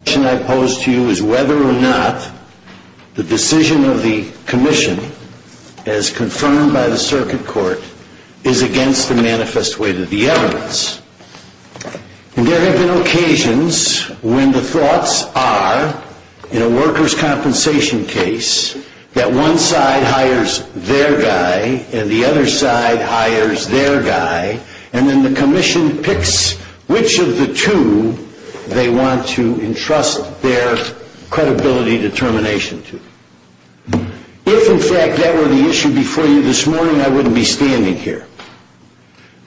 The question I pose to you is whether or not the decision of the Commission, as confirmed by the Circuit Court, is against the manifest way to the evidence. And there have been occasions when the thoughts are, in a workers' compensation case, that one side hires their guy and the other side hires their guy, and then the Commission picks which of the two they want to ensure. If, in fact, that were the issue before you this morning, I wouldn't be standing here.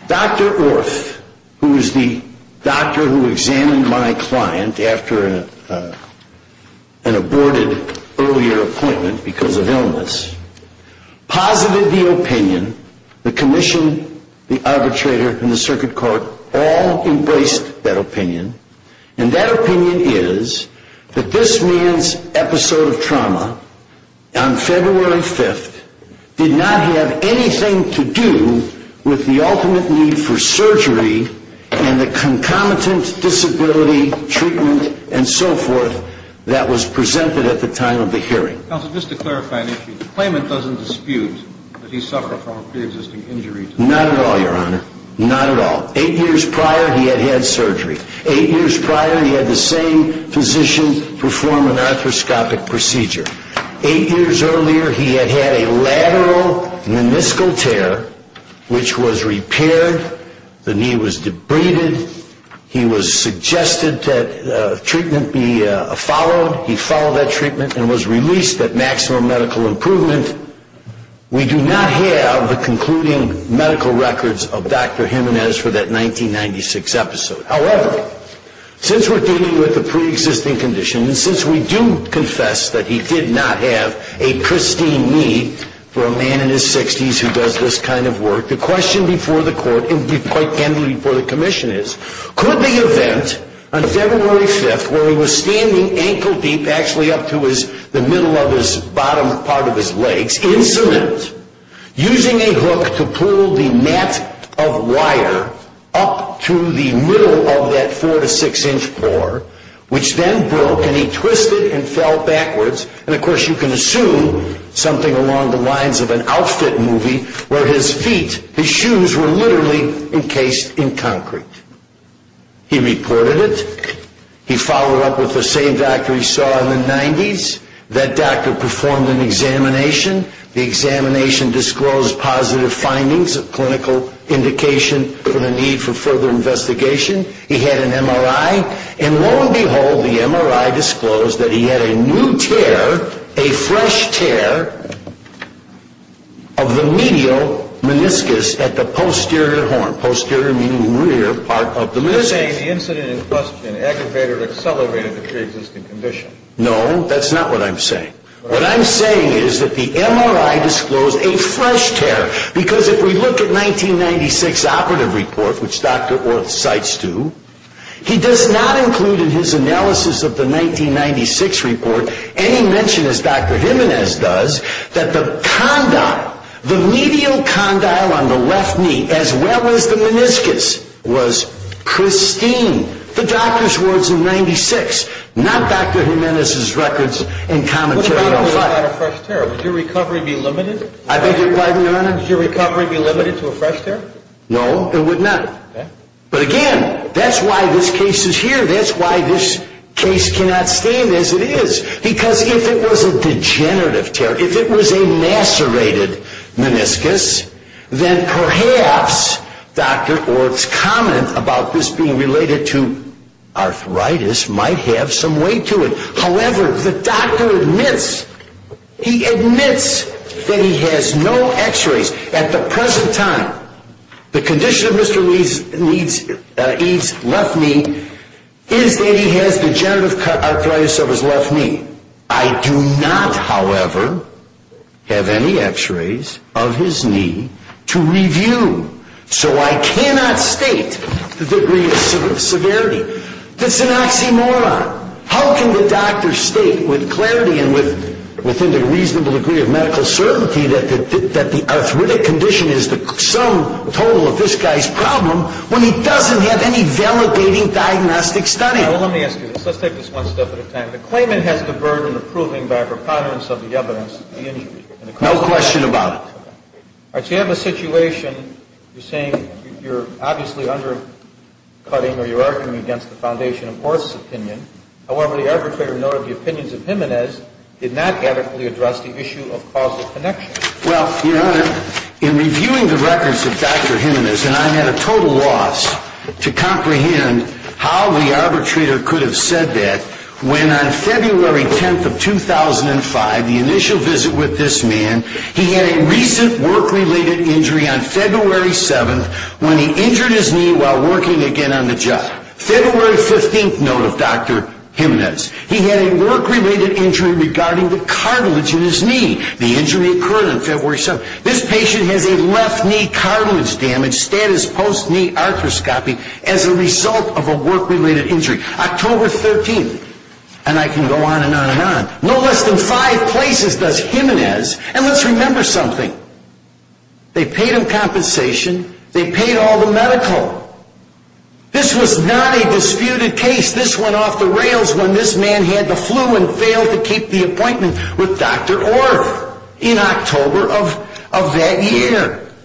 Dr. Orth, who is the doctor who examined my client after an aborted earlier appointment because of illness, posited the opinion. The Commission, the arbitrator, and the Circuit Court all embraced that opinion. And that opinion is that this man's episode of trauma on February 5th did not have anything to do with the ultimate need for surgery and the concomitant disability treatment and so forth that was presented at the time of the hearing. Counsel, just to clarify an issue, the claimant doesn't dispute that he suffered from a pre-existing injury? Not at all, Your Honor. Not at all. Eight years prior, he had had surgery. Eight years prior, he had the same physician perform an arthroscopic procedure. Eight years earlier, he had had a lateral meniscal tear, which was repaired. The knee was debrided. He was suggested that treatment be followed. He followed that treatment and was released at maximum medical improvement. We do not have the concluding medical records of Dr. Jimenez for that 1996 episode. However, since we're dealing with a pre-existing condition and since we do confess that he did not have a pristine need for a man in his 60s who does this kind of work, the question before the Court, and quite generally before the Commission is, could the event on February 5th, where he was standing ankle-deep, actually up to the middle of his bottom part of his legs, in cement, using a hook to pull the net of wire up to the middle of that four to six inch floor, which then broke, and he twisted and fell backwards, and of course you can assume something along the lines of an Alsted movie where his feet, his shoes were literally encased in concrete. He reported it. He followed up with the same doctor he saw in the 90s. That doctor performed an examination. The examination disclosed positive findings of clinical indication for the need for further investigation. He had an MRI, and lo and behold, the MRI disclosed that he had a new tear, a fresh tear, of the medial meniscus at the posterior horn. Posterior meaning rear part of the meniscus. You're saying the incident in question aggravated or accelerated the pre-existing condition. No, that's not what I'm saying. What I'm saying is that the MRI disclosed a fresh tear, because if we look at 1996 operative report, which Dr. Orth cites to, he does not include in his analysis of the 1996 report any mention, as Dr. Jimenez does, that the condyle, the medial condyle on the left knee, as well as the meniscus, was pristine. The doctor's words in 96, not Dr. Jimenez's records and commentary. Would your recovery be limited? I beg your pardon, your honor? Would your recovery be limited to a fresh tear? No, it would not. But again, that's why this case is here. That's why this case cannot stand as it is. Because if it was a degenerative tear, if it was a macerated meniscus, then perhaps Dr. Orth's comment about this being related to arthritis might have some weight to it. However, the doctor admits, he admits that he has no x-rays. At the present time, the condition of Mr. Reed's left knee is that he has degenerative arthritis of his left knee. I do not, however, have any x-rays of his knee to review. So I cannot state the degree of severity. That's an oxymoron. How can the doctor state with clarity and with a reasonable degree of medical certainty that the arthritic condition is the sum total of this guy's problem when he doesn't have any validating diagnostic study? Your Honor, let me ask you this. Let's take this one step at a time. The claimant has the burden of proving by preponderance of the evidence the injury. No question about it. All right. So you have a situation, you're saying you're obviously undercutting or you're arguing against the foundation of Orth's opinion. However, the arbitrator noted the opinions of Jimenez did not adequately address the issue of causal connection. Well, Your Honor, in reviewing the records of Dr. Jimenez, and I'm at a total loss to comprehend how the arbitrator could have said that when on February 10th of 2005, the initial visit with this man, he had a recent work-related injury on February 7th when he injured his knee while working again on the job. February 15th note of Dr. Jimenez. He had a work-related injury regarding the injury on February 7th. This patient has a left knee cartilage damage status post-knee arthroscopy as a result of a work-related injury. October 13th. And I can go on and on and on. No less than five places does Jimenez. And let's remember something. They paid him compensation. They paid all the medical. This was not a disputed case. This went off the rails when this man had the flu and failed to recover.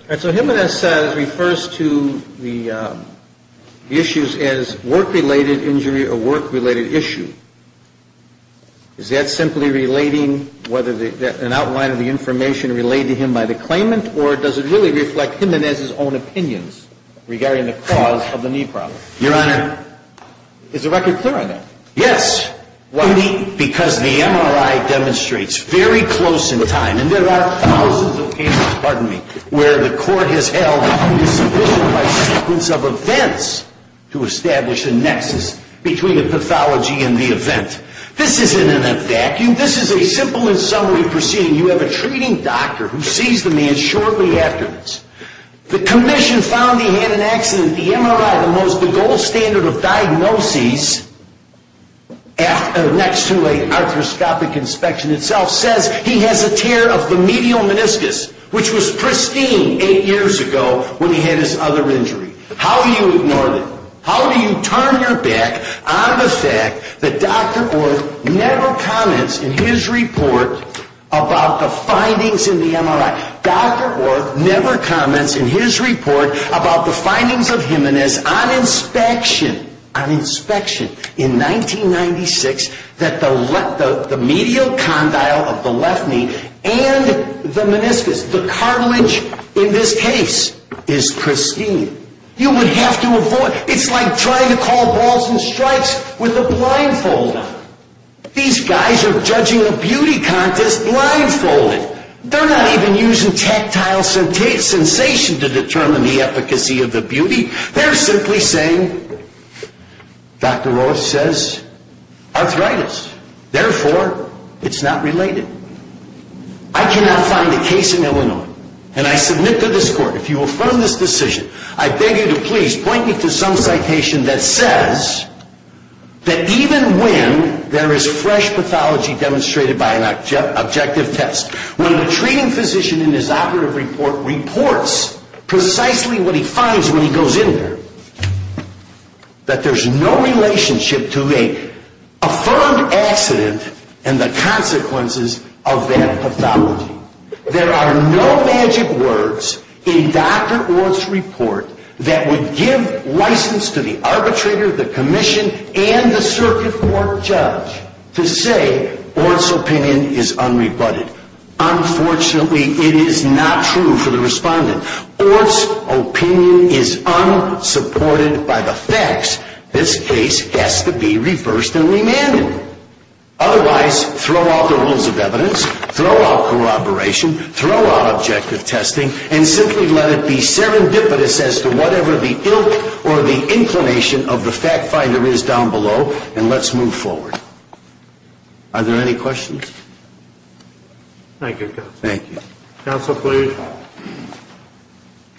And so Jimenez says, refers to the issues as work-related injury or work-related issue. Is that simply relating whether an outline of the information relayed to him by the claimant or does it really reflect Jimenez's own opinions regarding the cause of the knee problem? Your Honor. Is the record clear on that? Yes. Why? Because the MRI demonstrates very close in time. And there are thousands of cases, pardon me, where the court has held insufficient evidence of events to establish a nexus between the pathology and the event. This isn't in a vacuum. This is a simple and summary proceeding. You have a treating doctor who sees the man shortly afterwards. The commission found he had an accident. The MRI, the most next to late arthroscopic inspection itself says he has a tear of the medial meniscus, which was pristine eight years ago when he had his other injury. How do you ignore that? How do you turn your back on the fact that Dr. Orth never comments in his report about the findings in 1996 that the medial condyle of the left knee and the meniscus, the cartilage in this case, is pristine? You would have to avoid, it's like trying to call balls and strikes with a blindfold on. These guys are judging a beauty contest blindfolded. They're not even using tactile sensation to determine the efficacy of the beauty. They're simply saying, Dr. Orth says arthritis. Therefore, it's not related. I cannot find a case in Illinois, and I submit to this court, if you affirm this decision, I beg you to please point me to some citation that says that even when there is fresh pathology demonstrated by an objective test, when the treating physician in his operative report reports precisely what he finds when he goes in there, that there's no relationship to a affirmed accident and the consequences of that pathology. There are no magic words in Dr. Orth's to say Orth's opinion is unrebutted. Unfortunately, it is not true for the respondent. Orth's opinion is unsupported by the facts. This case has to be reversed and remanded. Otherwise, throw out the rules of evidence, throw out corroboration, throw out objective testing, and simply let it be serendipitous as to whatever the ilk or the inclination of the fact finder is down below, and let's move forward. Are there any questions? Thank you, counsel. Thank you. Counsel, please.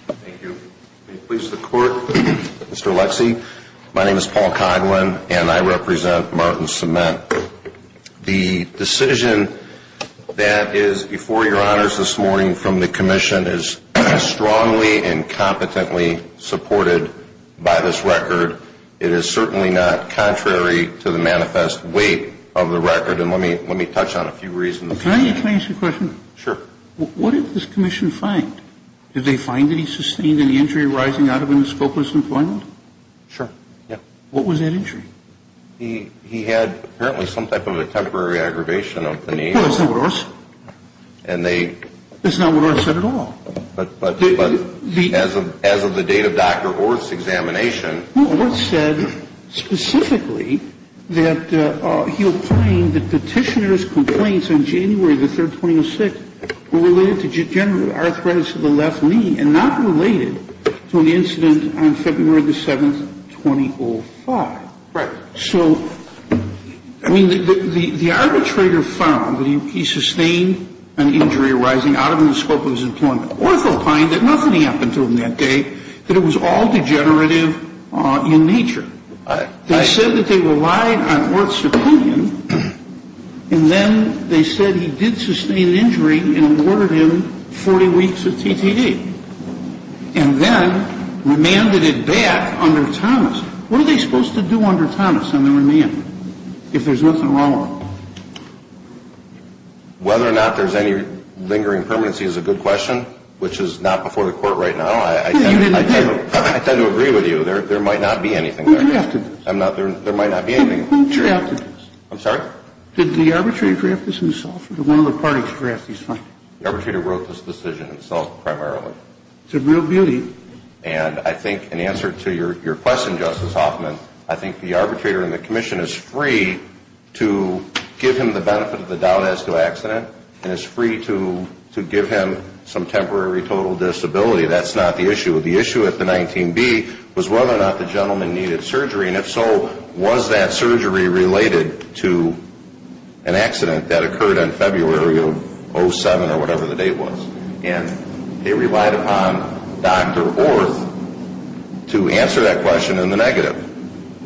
Thank you. Please, the court. Mr. Lexie, my name is Paul Coghlan, and I represent Martin Cement. The decision that is before your honors this morning from strongly and competently supported by this record. It is certainly not contrary to the manifest weight of the record, and let me touch on a few reasons. Can I ask you a question? Sure. What did this commission find? Did they find any sustained, any injury arising out of him in scopeless employment? Sure, yeah. What was that injury? He had apparently some type of a temporary aggravation of the knee. Of course, that's not what Orth did. That's not what Orth said at all. But as of the date of Dr. Orth's examination. Orth said specifically that he opined that the petitioner's complaints on January the 3rd, 2006, were related to degenerative arthritis of the left knee and not related to an incident on February the 7th, 2005. Right. So, I mean, the arbitrator found that he sustained an injury arising out of him in scopeless employment. Orth opined that nothing happened to him that day, that it was all degenerative in nature. They said that they relied on Orth's opinion, and then they said he did sustain injury and awarded him 40 weeks of TTA, and then remanded it back under Thomas. What are they supposed to do under Thomas on the remand if there's nothing wrong with him? Whether or not there's any lingering permanency is a good question, which is not before the Court right now. I tend to agree with you. There might not be anything there. Who drafted this? There might not be anything. Who drafted this? I'm sorry? Did the arbitrator draft this himself, or did one of the parties draft these findings? The arbitrator wrote this decision himself, primarily. It's a real beauty. And I think in answer to your question, Justice Hoffman, I think the arbitrator and the commission is free to give him the benefit of the doubt as to accident and is free to give him some temporary total disability. That's not the issue. The issue at the 19B was whether or not the gentleman needed surgery, and if so, was that surgery related to an accident that occurred on February 07 or whatever the date was. And they relied upon Dr. Orth to answer that question in the negative.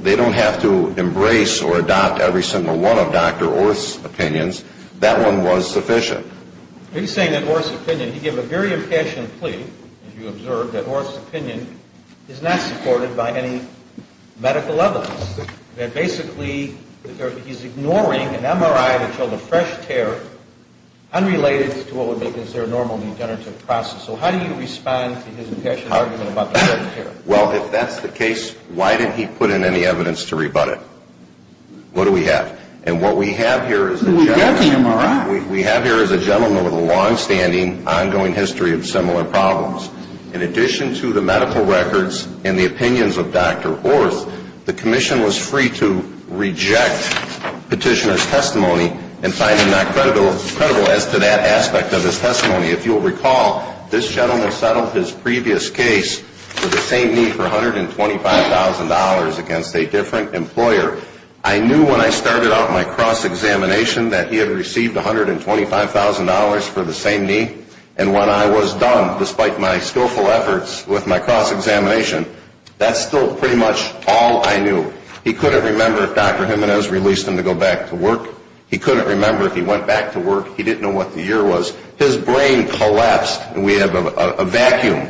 They don't have to embrace or adopt every single one of Dr. Orth's opinions. That one was sufficient. He's saying that Orth's opinion, he gave a very impassioned plea, as you observed, that Orth's opinion is not supported by any medical evidence. That basically, he's ignoring an MRI that showed a fresh tear unrelated to what would make this their normal degenerative process. So how do you respond to his impassioned argument about the fresh tear? Well, if that's the case, why did he put in any evidence to rebut it? What do we have? And what we have here is a gentleman with a longstanding, ongoing history of similar problems. In addition to the medical records and the opinions of Dr. Orth, the commission was free to reject Petitioner's testimony and find him not credible as to that aspect of his testimony. If you'll recall, this gentleman settled his previous case with the same knee for $125,000 against a different employer. I knew when I started out my cross-examination that he had received $125,000 for the same knee. And when I was done, despite my skillful efforts with my cross-examination, that's still pretty much all I knew. He couldn't remember if Dr. Jimenez released him to go back to work. He couldn't remember if he went back to work. He didn't know what the year was. His brain collapsed, and we have a vacuum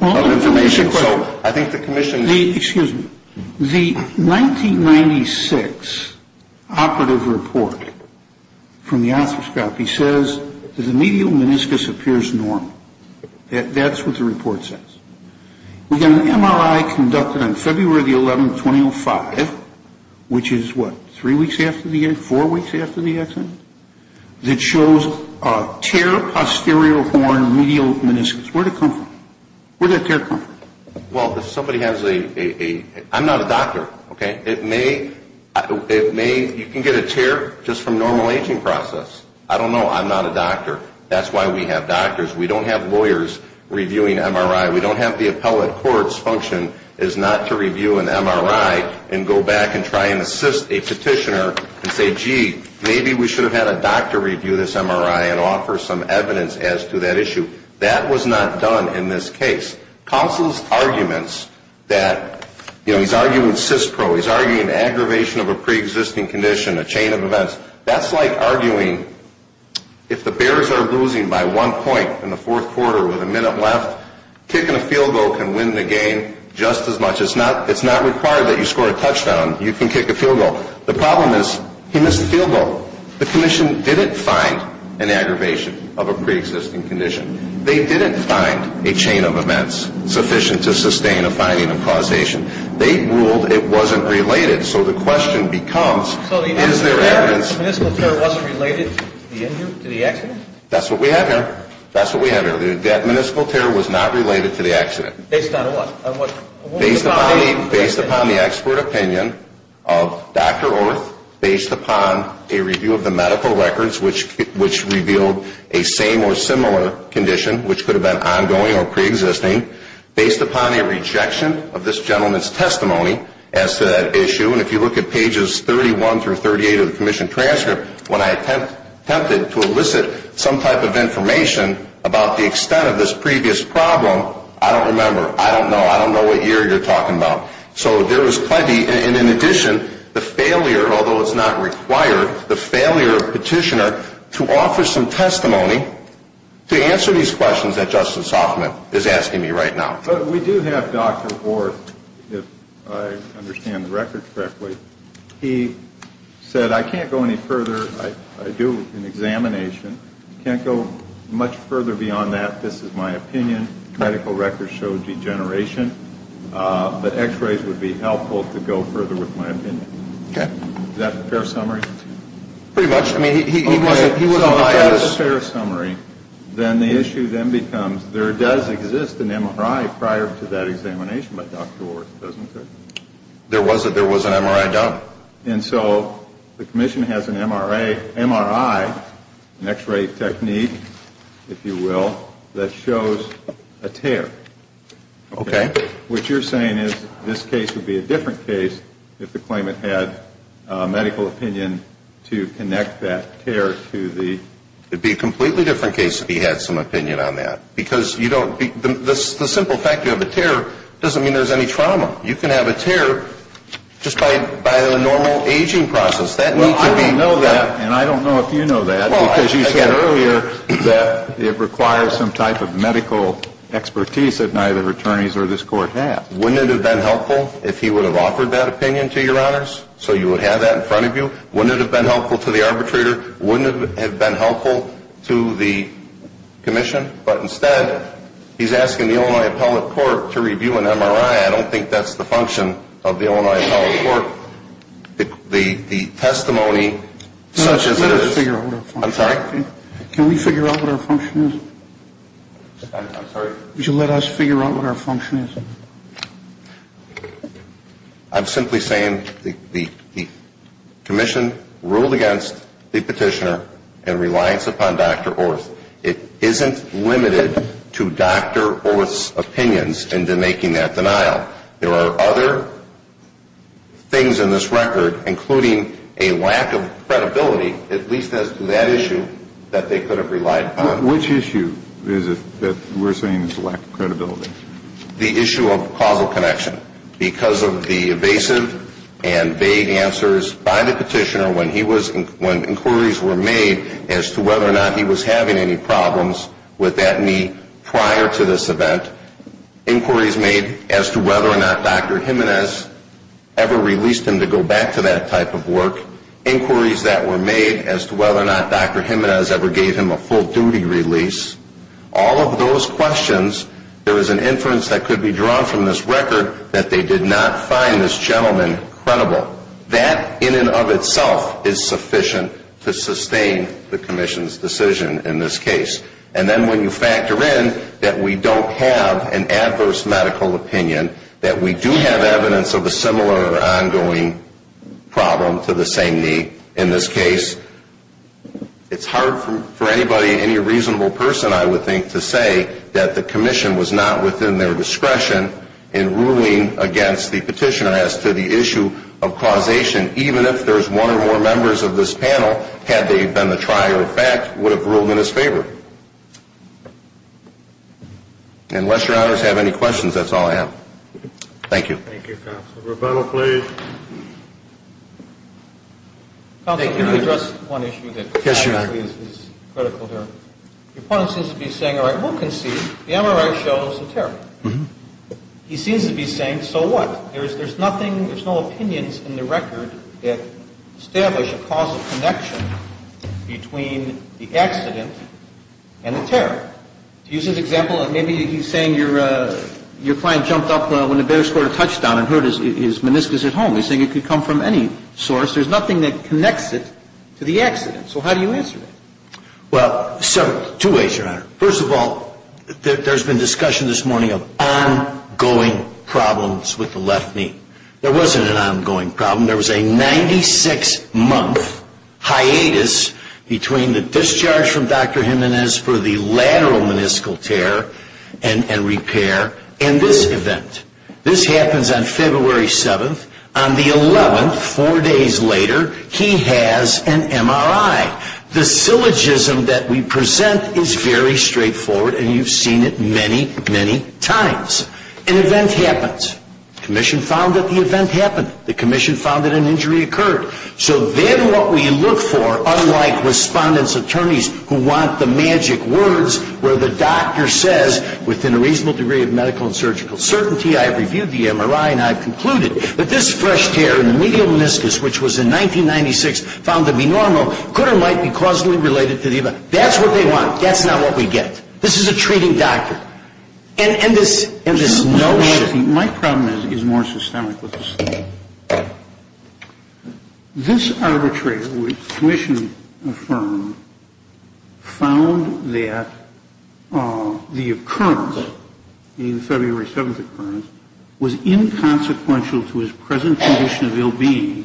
of information. Excuse me. The 1996 operative report from the Osteoscopy says that the medial meniscus appears normal. That's what the report says. We've got an MRI conducted on February the 11th, 2005, which is, what, three weeks after the accident, four weeks after the accident, that shows a tear posterior horn medial meniscus. Where'd it come from? Where'd that tear come from? Well, if somebody has a – I'm not a doctor, okay? It may – you can get a tear just from normal aging process. I don't know. I'm not a doctor. That's why we have doctors. We don't have lawyers reviewing MRI. We don't have the appellate court's function as not to review an MRI and go back and try and assist a petitioner and say, gee, maybe we should have had a doctor review this MRI and offer some evidence as to that issue. That was not done in this case. Counsel's arguments that – you know, he's arguing cis pro. He's arguing aggravation of a preexisting condition, a chain of events. That's like arguing if the Bears are losing by one point in the fourth quarter with a minute left, kicking a field goal can win the game just as much. It's not required that you score a touchdown. You can kick a field goal. The problem is he missed the field goal. So the commission didn't find an aggravation of a preexisting condition. They didn't find a chain of events sufficient to sustain a finding of causation. They ruled it wasn't related. So the question becomes is there evidence? So the municipal terror wasn't related to the injury, to the accident? That's what we have here. That's what we have here. That municipal terror was not related to the accident. Based on what? Based upon the expert opinion of Dr. Orth, based upon a review of the medical records which revealed a same or similar condition which could have been ongoing or preexisting, based upon a rejection of this gentleman's testimony as to that issue, and if you look at pages 31 through 38 of the commission transcript, when I attempted to elicit some type of information about the extent of this previous problem, I don't remember. I don't know. I don't know what year you're talking about. So there was plenty, and in addition, the failure, although it's not required, the failure of Petitioner to offer some testimony to answer these questions that Justice Hoffman is asking me right now. But we do have Dr. Orth, if I understand the records correctly. He said, I can't go any further. I do an examination. I can't go much further beyond that. This is my opinion. Medical records show degeneration. But x-rays would be helpful to go further with my opinion. Okay. Is that a fair summary? Pretty much. I mean, he wasn't the first. Okay. So if that's a fair summary, then the issue then becomes, there does exist an MRI prior to that examination by Dr. Orth, doesn't it? There was an MRI done. And so the commission has an MRI, an x-ray technique, if you will, that shows a tear. Okay. What you're saying is this case would be a different case if the claimant had medical opinion to connect that tear to the ‑‑ It would be a completely different case if he had some opinion on that. Because the simple fact you have a tear doesn't mean there's any trauma. You can have a tear just by the normal aging process. That needs to be ‑‑ Well, I don't know that, and I don't know if you know that, because you said earlier that it requires some type of medical expertise that neither attorneys or this Court has. Wouldn't it have been helpful if he would have offered that opinion to Your Honors so you would have that in front of you? Wouldn't it have been helpful to the arbitrator? Wouldn't it have been helpful to the commission? But instead, he's asking the Illinois Appellate Court to review an MRI. I don't think that's the function of the Illinois Appellate Court. The testimony, such as it is ‑‑ Let us figure out what our function is. I'm sorry? Can we figure out what our function is? I'm sorry? Would you let us figure out what our function is? I'm simply saying the commission ruled against the petitioner in reliance upon Dr. Orth. It isn't limited to Dr. Orth's opinions into making that denial. There are other things in this record, including a lack of credibility, at least as to that issue, that they could have relied upon. Which issue is it that we're saying is a lack of credibility? The issue of causal connection. Because of the evasive and vague answers by the petitioner when inquiries were made as to whether or not he was having any problems with that knee prior to this event. Inquiries made as to whether or not Dr. Jimenez ever released him to go back to that type of work. Inquiries that were made as to whether or not Dr. Jimenez ever gave him a full duty release. All of those questions, there is an inference that could be drawn from this record that they did not find this gentleman credible. That in and of itself is sufficient to sustain the commission's decision in this case. And then when you factor in that we don't have an adverse medical opinion, that we do have evidence of a similar ongoing problem to the same knee in this case, it's hard for anybody, any reasonable person, I would think, to say that the commission was not within their discretion in ruling against the petitioner as to the issue of causation. Even if there's one or more members of this panel, had they been the trier of fact, would have ruled in his favor. Unless your honors have any questions, that's all I have. Thank you. Rebuttal, please. Counsel, can I address one issue that is critical here? Yes, your honor. Your opponent seems to be saying, all right, we'll concede the MRI shows a terror. He seems to be saying, so what? There's nothing, there's no opinions in the record that establish a causal connection between the accident and the terror. Do you see an example? Maybe he's saying your client jumped up when the bearer scored a touchdown and hurt his meniscus at home. He's saying it could come from any source. There's nothing that connects it to the accident. So how do you answer that? Well, two ways, your honor. First of all, there's been discussion this morning of ongoing problems with the left knee. There wasn't an ongoing problem. There was a 96-month hiatus between the discharge from Dr. Jimenez for the lateral meniscal tear and repair and this event. This happens on February 7th. On the 11th, four days later, he has an MRI. The syllogism that we present is very straightforward, and you've seen it many, many times. An event happens. The commission found that the event happened. The commission found that an injury occurred. So then what we look for, unlike respondent's attorneys who want the magic words where the doctor says, within a reasonable degree of medical and surgical certainty, I have reviewed the MRI, and I have concluded that this fresh tear in the medial meniscus, which was in 1996, found to be normal, could or might be causally related to the event. That's what they want. That's not what we get. This is a treating doctor. And this notion. My problem is more systemic with this. This arbitrator, which the commission affirmed, found that the occurrence, the February 7th occurrence, was inconsequential to his present condition of ill-being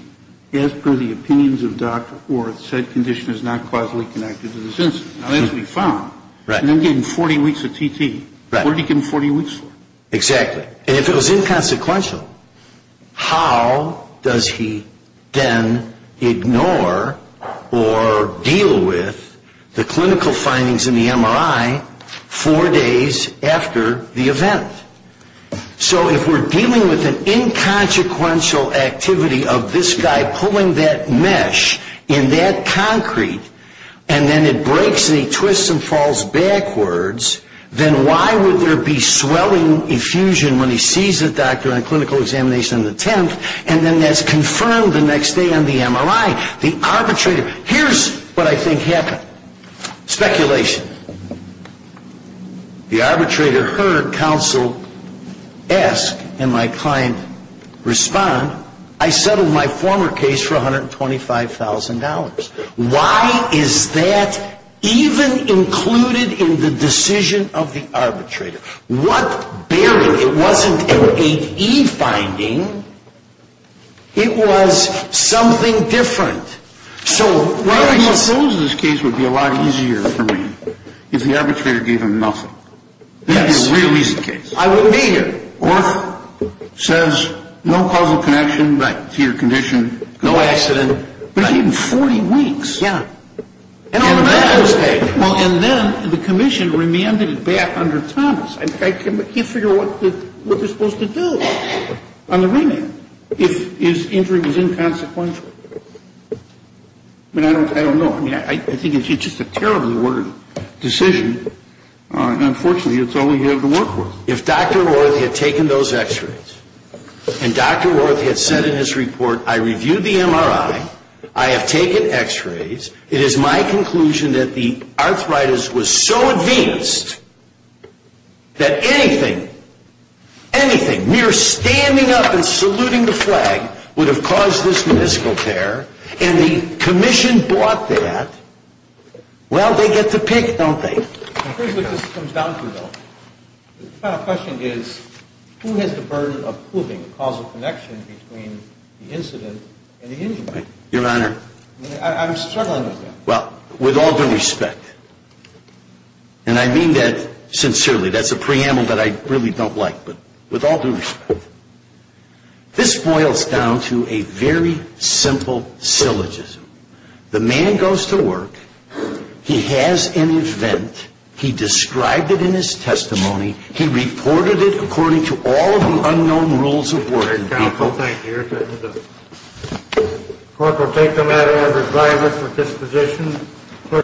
as per the opinions of Dr. Orth, said condition is not causally connected to this incident. Now, that's what he found. Right. And then gave him 40 weeks of TT. Right. What did he give him 40 weeks for? Exactly. And if it was inconsequential, how does he then ignore or deal with the clinical findings in the MRI four days after the event? So if we're dealing with an inconsequential activity of this guy pulling that mesh in that concrete, and then it breaks and he twists and falls backwards, then why would there be swelling effusion when he sees a doctor on a clinical examination on the 10th, and then that's confirmed the next day on the MRI? The arbitrator, here's what I think happened. Speculation. The arbitrator heard counsel ask, and my client respond, I settled my former case for $125,000. Why is that even included in the decision of the arbitrator? What barrier? It wasn't an 8E finding. It was something different. I suppose this case would be a lot easier for me if the arbitrator gave him nothing. Yes. It would be a real easy case. I wouldn't be here. Orth says no causal connection to your condition. No accident. Not even 40 weeks. Yeah. And then the commission remanded it back under Thomas. I can't figure out what they're supposed to do on the remand if his injury was inconsequential. I mean, I don't know. I mean, I think it's just a terrible decision. Unfortunately, it's all we have to work with. If Dr. Orth had taken those x-rays, and Dr. Orth had said in his report, I reviewed the MRI, I have taken x-rays, it is my conclusion that the arthritis was so advanced that anything, anything mere standing up and saluting the flag would have caused this meniscal tear, and the commission bought that, well, they get to pick, don't they? I'm curious what this comes down to, though. My question is, who has the burden of proving a causal connection between the incident and the injury? Your Honor. I'm struggling with that. Well, with all due respect, and I mean that sincerely. That's a preamble that I really don't like, but with all due respect, this boils down to a very simple syllogism. The man goes to work. He has an event. He described it in his testimony. He reported it according to all of the unknown rules of working people. Counsel, thank you. Court will take the matter under driver's disposition.